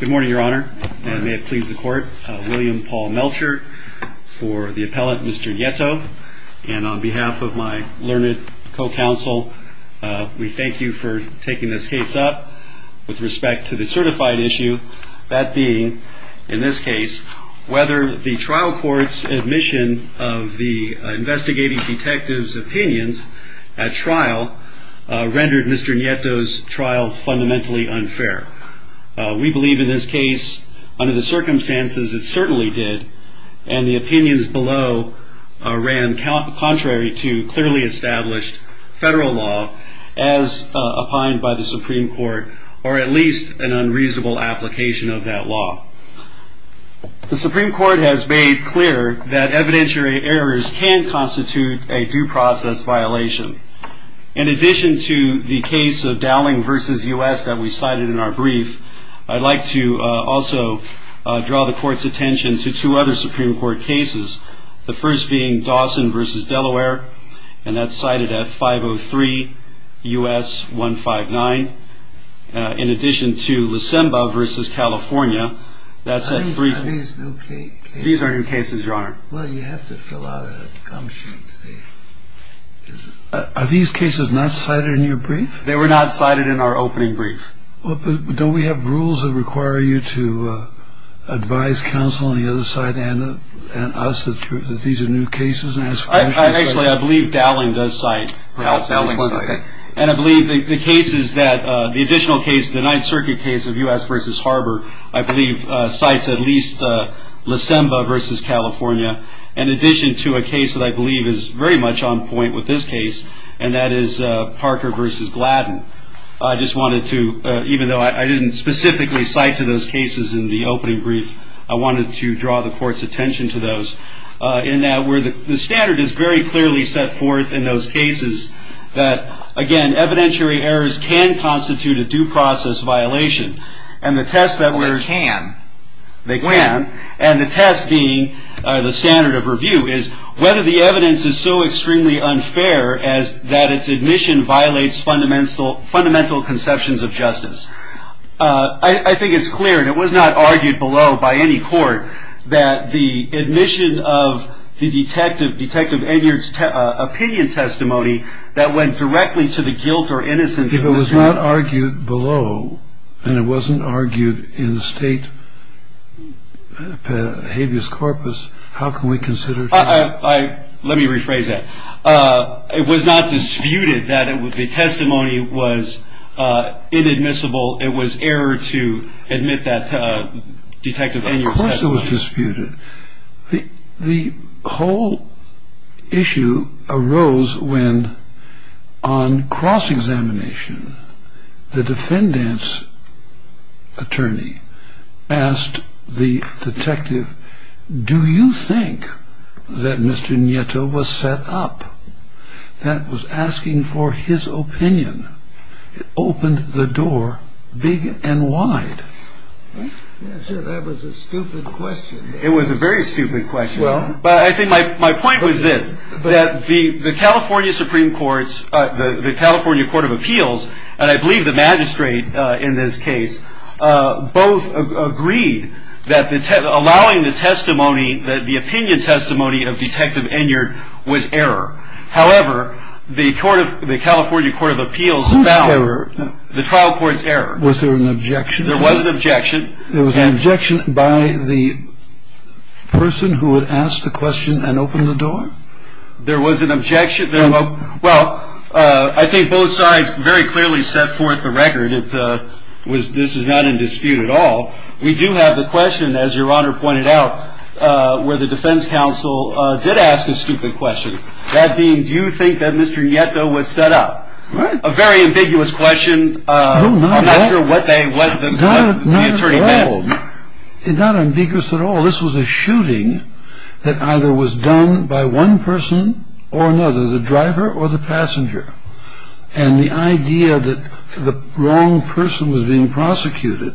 Good morning, Your Honor, and may it please the Court, William Paul Melcher for the appellate, Mr. Nieto. And on behalf of my learned co-counsel, we thank you for taking this case up. With respect to the certified issue, that being, in this case, whether the trial court's admission of the investigating detective's opinions at trial rendered Mr. Nieto's trial fundamentally unfair. We believe in this case, under the circumstances, it certainly did, and the opinions below ran contrary to clearly established federal law, as opined by the Supreme Court, or at least an unreasonable application of that law. The Supreme Court has made clear that evidentiary errors can constitute a due process violation, and in addition to the case of Dowling v. U.S. that we cited in our brief, I'd like to also draw the Court's attention to two other Supreme Court cases, the first being Dawson v. Delaware, and that's cited at 503 U.S. 159. In addition to Lisemba v. California, that's at 3- These are new cases, Your Honor. Well, you have to fill out a gum sheet. Are these cases not cited in your brief? They were not cited in our opening brief. Don't we have rules that require you to advise counsel on the other side and us that these are new cases? Actually, I believe Dowling does cite- Dowling cited. And I believe the additional case, the Ninth Circuit case of U.S. v. Harbor, I believe cites at least Lisemba v. California, in addition to a case that I believe is very much on point with this case, and that is Parker v. Gladden. I just wanted to, even though I didn't specifically cite to those cases in the opening brief, I wanted to draw the Court's attention to those, in that the standard is very clearly set forth in those cases that, again, evidentiary errors can constitute a due process violation, and the test that we're- They can. They can. And the test being the standard of review is whether the evidence is so extremely unfair that its admission violates fundamental conceptions of justice. I think it's clear, and it was not argued below by any court, that the admission of the Detective Enyart's opinion testimony that went directly to the guilt or innocence- It was not argued below, and it wasn't argued in the state habeas corpus. How can we consider- Let me rephrase that. It was not disputed that the testimony was inadmissible. It was error to admit that Detective Enyart's testimony- Of course it was disputed. The whole issue arose when, on cross-examination, the defendant's attorney asked the detective, Do you think that Mr. Nieto was set up? That was asking for his opinion. It opened the door big and wide. That was a stupid question. It was a very stupid question. But I think my point was this, that the California Supreme Court's, the California Court of Appeals, and I believe the magistrate in this case, both agreed that allowing the testimony, the opinion testimony of Detective Enyart was error. However, the California Court of Appeals found- Whose error? The trial court's error. Was there an objection? There was an objection. There was an objection by the person who had asked the question and opened the door? There was an objection. Well, I think both sides very clearly set forth the record that this is not in dispute at all. We do have the question, as Your Honor pointed out, where the defense counsel did ask a stupid question. That being, do you think that Mr. Nieto was set up? A very ambiguous question. I'm not sure what the attorney meant. Not at all. Not ambiguous at all. This was a shooting that either was done by one person or another, the driver or the passenger. And the idea that the wrong person was being prosecuted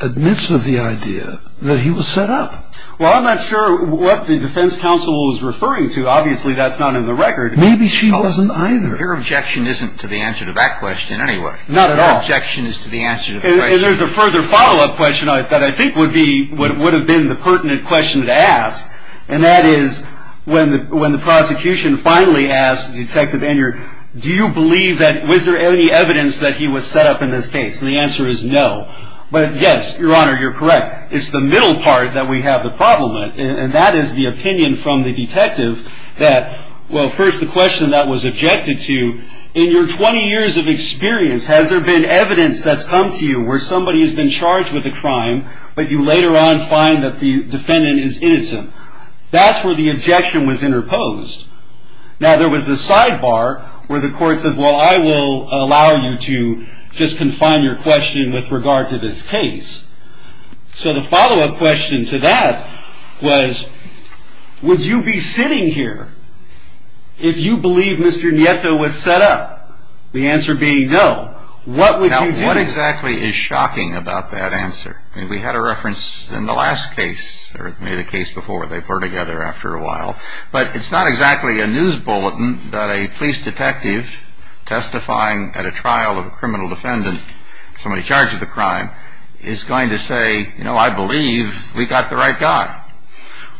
admits of the idea that he was set up. Well, I'm not sure what the defense counsel was referring to. Obviously, that's not in the record. Maybe she wasn't either. Your objection isn't to the answer to that question anyway. Not at all. Your objection is to the answer to the question. And there's a further follow-up question that I think would have been the pertinent question to ask, and that is when the prosecution finally asked Detective Enyard, do you believe that was there any evidence that he was set up in this case? And the answer is no. But, yes, Your Honor, you're correct. It's the middle part that we have the problem with, and that is the opinion from the detective that, well, first, the question that was objected to, in your 20 years of experience, has there been evidence that's come to you where somebody has been charged with a crime, but you later on find that the defendant is innocent? That's where the objection was interposed. Now, there was a sidebar where the court said, well, I will allow you to just confine your question with regard to this case. So the follow-up question to that was, would you be sitting here if you believe Mr. Nieto was set up? The answer being no. What would you do? Now, what exactly is shocking about that answer? I mean, we had a reference in the last case, or maybe the case before. They were together after a while. But it's not exactly a news bulletin that a police detective testifying at a trial of a criminal defendant, somebody charged with a crime, is going to say, you know, I believe we got the right guy.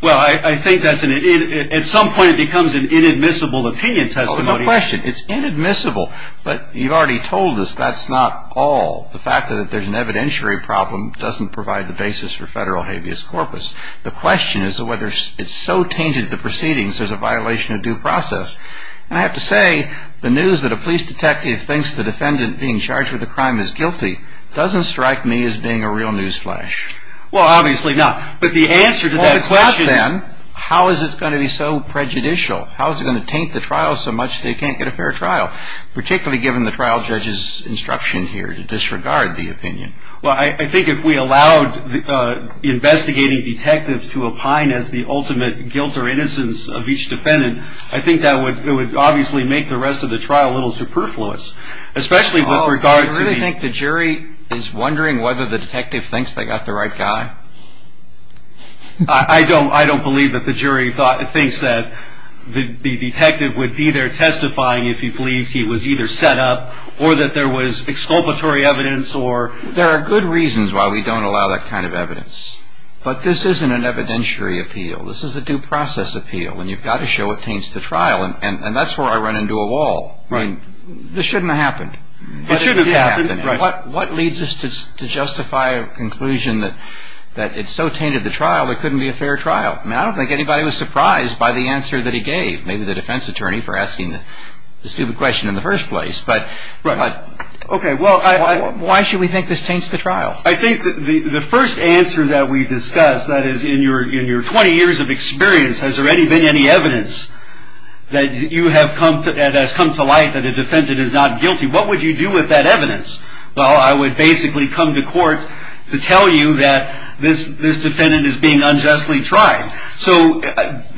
Well, I think at some point it becomes an inadmissible opinion testimony. Oh, no question. It's inadmissible. But you've already told us that's not all. The fact that there's an evidentiary problem doesn't provide the basis for federal habeas corpus. The question is whether it's so tainted the proceedings as a violation of due process. And I have to say, the news that a police detective thinks the defendant being charged with a crime is guilty doesn't strike me as being a real news flash. Well, obviously not. But the answer to that question. Well, if it's not then, how is it going to be so prejudicial? How is it going to taint the trial so much that you can't get a fair trial, particularly given the trial judge's instruction here to disregard the opinion? Well, I think if we allowed the investigating detectives to opine as the ultimate guilt or innocence of each defendant, I think that would obviously make the rest of the trial a little superfluous, especially with regard to the... Do you really think the jury is wondering whether the detective thinks they got the right guy? I don't believe that the jury thinks that the detective would be there testifying if he believed he was either set up or that there was exculpatory evidence or... There are good reasons why we don't allow that kind of evidence. But this isn't an evidentiary appeal. This is a due process appeal. And you've got to show it taints the trial. And that's where I run into a wall. Right. This shouldn't have happened. It shouldn't have happened. But it did happen. Right. What leads us to justify a conclusion that it so tainted the trial it couldn't be a fair trial? I mean, I don't think anybody was surprised by the answer that he gave, maybe the defense attorney for asking the stupid question in the first place. But... Right. Okay. Well, why should we think this taints the trial? I think the first answer that we discussed, that is, in your 20 years of experience, has there been any evidence that has come to light that a defendant is not guilty? What would you do with that evidence? Well, I would basically come to court to tell you that this defendant is being unjustly tried. So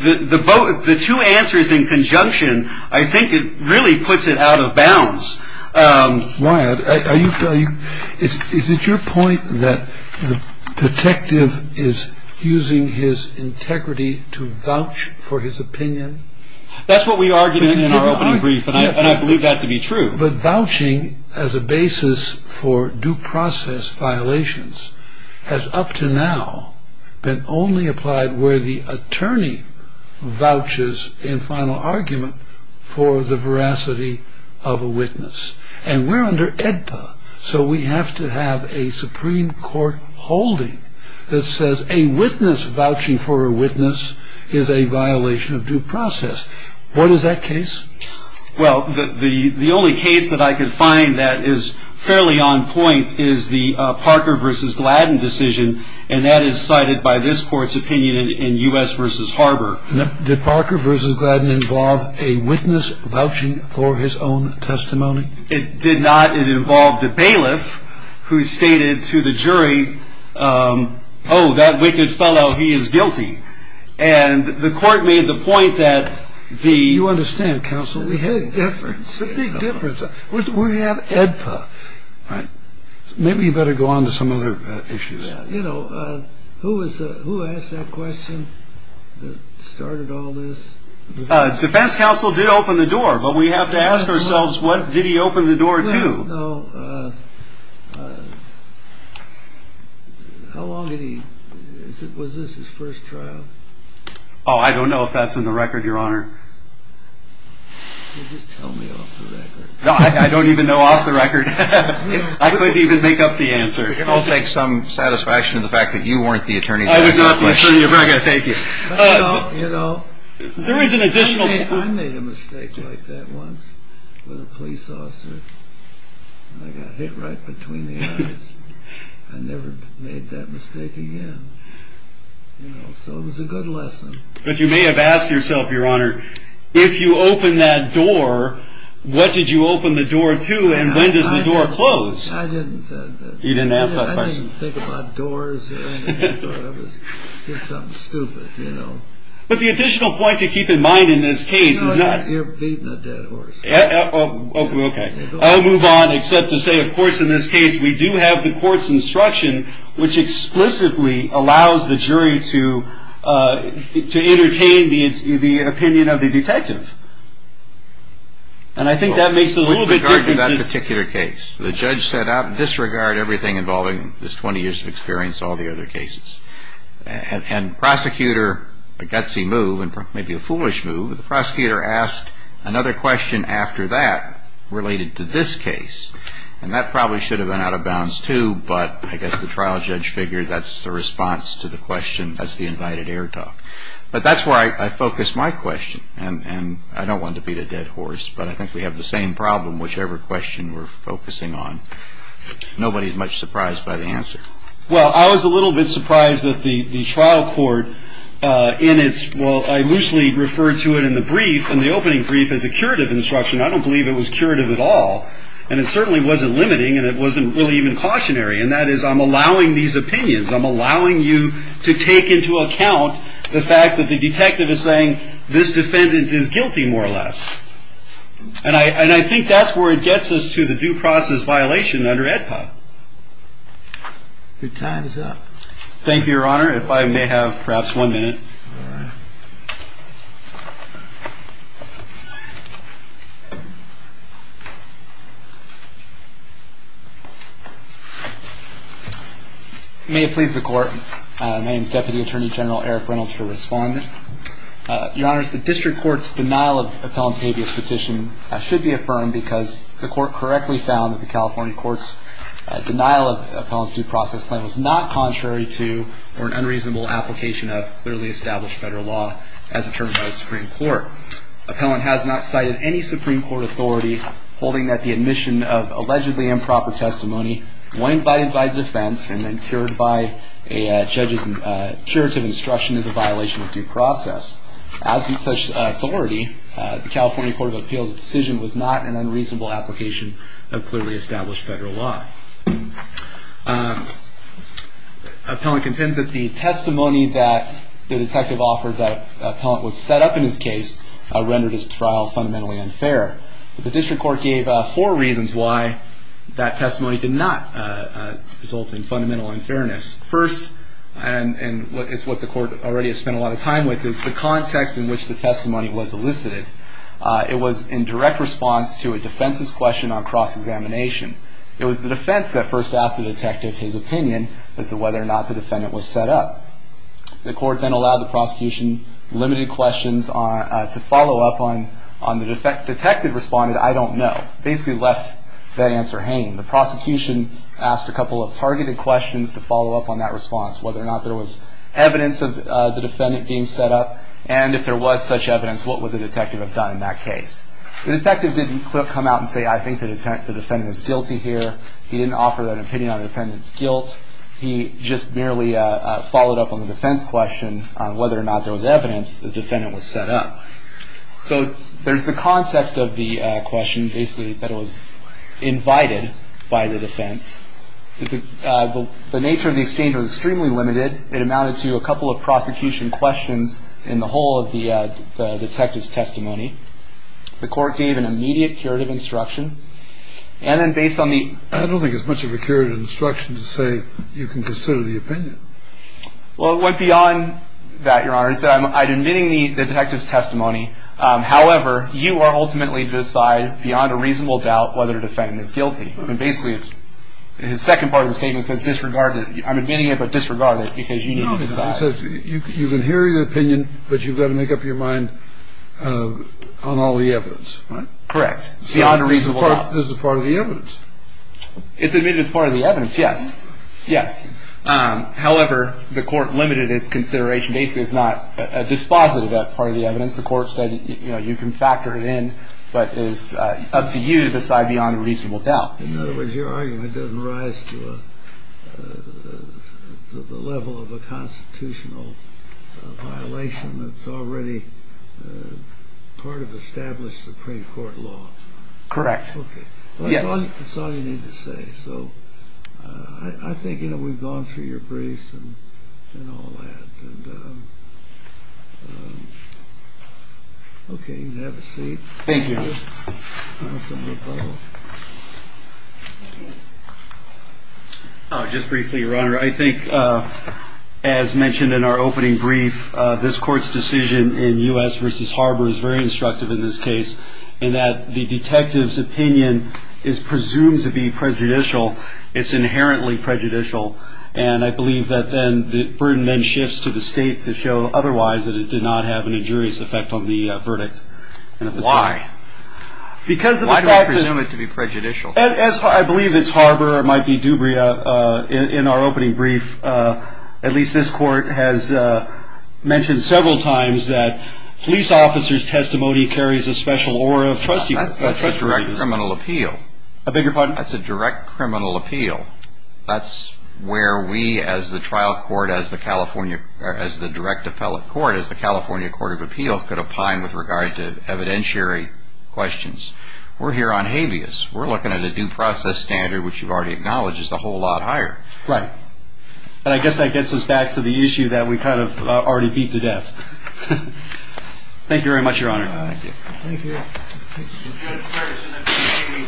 the two answers in conjunction, I think it really puts it out of bounds. Wyatt, is it your point that the detective is using his integrity to vouch for his opinion? That's what we argued in our opening brief, and I believe that to be true. But vouching as a basis for due process violations has up to now been only applied where the attorney vouches in final argument for the veracity of a witness. And we're under AEDPA, so we have to have a Supreme Court holding that says a witness vouching for a witness is a violation of due process. What is that case? Well, the only case that I could find that is fairly on point is the Parker v. Gladden decision, and that is cited by this court's opinion in U.S. v. Harbor. Did Parker v. Gladden involve a witness vouching for his own testimony? It did not. It involved a bailiff who stated to the jury, oh, that wicked fellow, he is guilty. And the court made the point that the – You understand, counsel, we had a difference, a big difference. We have AEDPA. Maybe you better go on to some other issues. You know, who asked that question that started all this? Defense counsel did open the door, but we have to ask ourselves what did he open the door to? How long did he – was this his first trial? Oh, I don't know if that's in the record, Your Honor. Just tell me off the record. No, I don't even know off the record. I couldn't even make up the answer. I'll take some satisfaction in the fact that you weren't the attorney. I was not the attorney. Okay, thank you. You know, I made a mistake like that once with a police officer, and I got hit right between the eyes. I never made that mistake again. You know, so it was a good lesson. But you may have asked yourself, Your Honor, if you open that door, what did you open the door to, and when does the door close? I didn't. You didn't ask that question. I didn't think about doors or anything. I thought it was something stupid, you know. But the additional point to keep in mind in this case is not – You're beating a dead horse. Okay. I'll move on except to say, of course, in this case we do have the court's instruction, which explicitly allows the jury to entertain the opinion of the detective. And I think that makes it a little bit different. With regard to that particular case, the judge set out, disregard everything involving this 20 years of experience, all the other cases. And prosecutor, a gutsy move and maybe a foolish move, the prosecutor asked another question after that related to this case. And that probably should have been out of bounds, too, but I guess the trial judge figured that's the response to the question. That's the invited air talk. But that's where I focus my question. And I don't want to beat a dead horse, but I think we have the same problem whichever question we're focusing on. Nobody is much surprised by the answer. Well, I was a little bit surprised that the trial court in its – well, I loosely refer to it in the brief, in the opening brief, as a curative instruction. I don't believe it was curative at all. And it certainly wasn't limiting, and it wasn't really even cautionary. And that is, I'm allowing these opinions. I'm allowing you to take into account the fact that the detective is saying, this defendant is guilty, more or less. And I think that's where it gets us to the due process violation under AEDPA. Your time is up. Thank you, Your Honor. If I may have perhaps one minute. All right. May it please the Court. My name is Deputy Attorney General Eric Reynolds for Respondent. Your Honor, the district court's denial of appellant's habeas petition should be affirmed because the court correctly found that the California court's denial of appellant's due process claim was not contrary to or an unreasonable application of clearly established federal law as determined by the Supreme Court. Appellant has not cited any Supreme Court authority holding that the admission of allegedly improper testimony, when invited by defense and then cured by a judge's curative instruction, is a violation of due process. Absent such authority, the California Court of Appeals' decision was not an unreasonable application of clearly established federal law. Appellant contends that the testimony that the detective offered that appellant was set up in his case rendered his trial fundamentally unfair. The district court gave four reasons why that testimony did not result in fundamental unfairness. First, and it's what the court already has spent a lot of time with, is the context in which the testimony was elicited. It was in direct response to a defense's question on cross-examination. It was the defense that first asked the detective his opinion as to whether or not the defendant was set up. The court then allowed the prosecution limited questions to follow up on the detective's response that I don't know, basically left that answer hanging. The prosecution asked a couple of targeted questions to follow up on that response, whether or not there was evidence of the defendant being set up, and if there was such evidence, what would the detective have done in that case. The detective didn't come out and say, I think the defendant is guilty here. He didn't offer an opinion on the defendant's guilt. He just merely followed up on the defense question on whether or not there was evidence the defendant was set up. So there's the context of the question, basically, that was invited by the defense. The nature of the exchange was extremely limited. It amounted to a couple of prosecution questions in the whole of the detective's testimony. The court gave an immediate curative instruction. And then based on the- I don't think it's much of a curative instruction to say you can consider the opinion. Well, it went beyond that, Your Honor. Instead, I'm admitting the detective's testimony. However, you are ultimately to decide, beyond a reasonable doubt, whether the defendant is guilty. And basically, his second part of the statement says disregard it. I'm admitting it, but disregard it, because you need to decide. So you can hear the opinion, but you've got to make up your mind on all the evidence, right? Correct. Beyond a reasonable doubt. So this is part of the evidence. It's admitted as part of the evidence, yes. Yes. However, the court limited its consideration. Basically, it's not dispositive of part of the evidence. The court said, you know, you can factor it in, but it's up to you to decide beyond a reasonable doubt. In other words, your argument doesn't rise to the level of a constitutional violation that's already part of established Supreme Court law. Correct. Okay. Yes. That's all you need to say. So I think, you know, we've gone through your briefs and all that. And, okay, you can have a seat. Thank you. Just briefly, Your Honor, I think, as mentioned in our opening brief, this court's decision in U.S. v. Harbor is very instructive in this case in that the detective's opinion is presumed to be prejudicial. It's inherently prejudicial. And I believe that then the burden then shifts to the state to show otherwise that it did not have an injurious effect on the verdict. Why? Why do we presume it to be prejudicial? As I believe it's Harbor or it might be Dubria, in our opening brief, at least this court has mentioned several times that police officers' testimony carries a special aura of trustworthiness. That's a direct criminal appeal. I beg your pardon? That's a direct criminal appeal. That's where we as the trial court, as the direct appellate court, as the California Court of Appeal, could opine with regard to evidentiary questions. We're here on habeas. We're looking at a due process standard, which you've already acknowledged is a whole lot higher. Right. And I guess that gets us back to the issue that we kind of already beat to death. Thank you very much, Your Honor. Thank you. Thank you. Judge Ferguson, we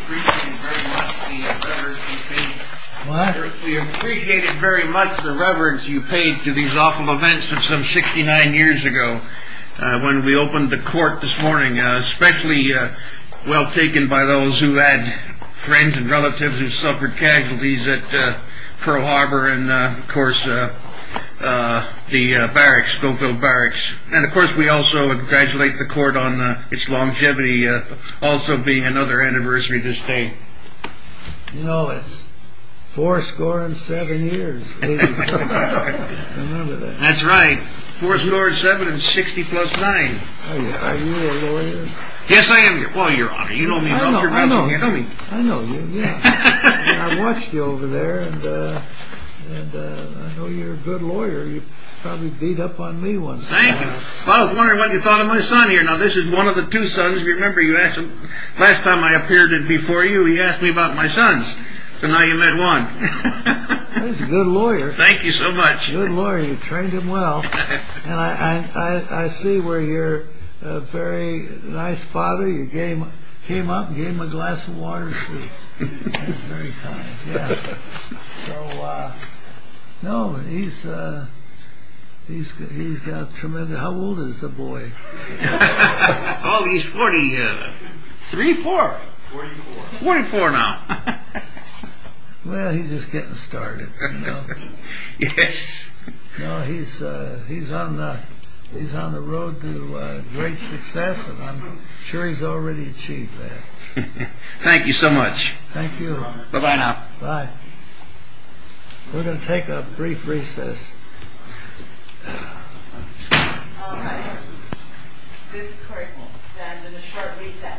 appreciate very much the reverence you paid to these awful events of some 69 years ago when we opened the court this morning, especially well taken by those who had friends and relatives who suffered casualties at Pearl Harbor and, of course, the barracks, Schofield Barracks. And, of course, we also congratulate the court on its longevity also being another anniversary to this day. You know, it's four score and seven years. Remember that. That's right. Four score and seven and 60 plus nine. Are you a lawyer? Yes, I am. Well, Your Honor, you know me. I know. Tell me. I know you. You probably beat up on me once in a while. Thank you. I was wondering what you thought of my son here. Now, this is one of the two sons. Remember, you asked him last time I appeared before you. He asked me about my sons and how you met one. He's a good lawyer. Thank you so much. Good lawyer. You trained him well. And I see where you're a very nice father. You came up and gave him a glass of water to drink. Very kind. Yeah. So, no, he's got tremendous... How old is the boy? Oh, he's forty... Three, four. Forty-four. Forty-four now. Well, he's just getting started, you know. Yes. No, he's on the road to great success, and I'm sure he's already achieved that. Thank you so much. Thank you. Bye-bye now. Bye. We're going to take a brief recess. This court will stand in a short recess. Thank you.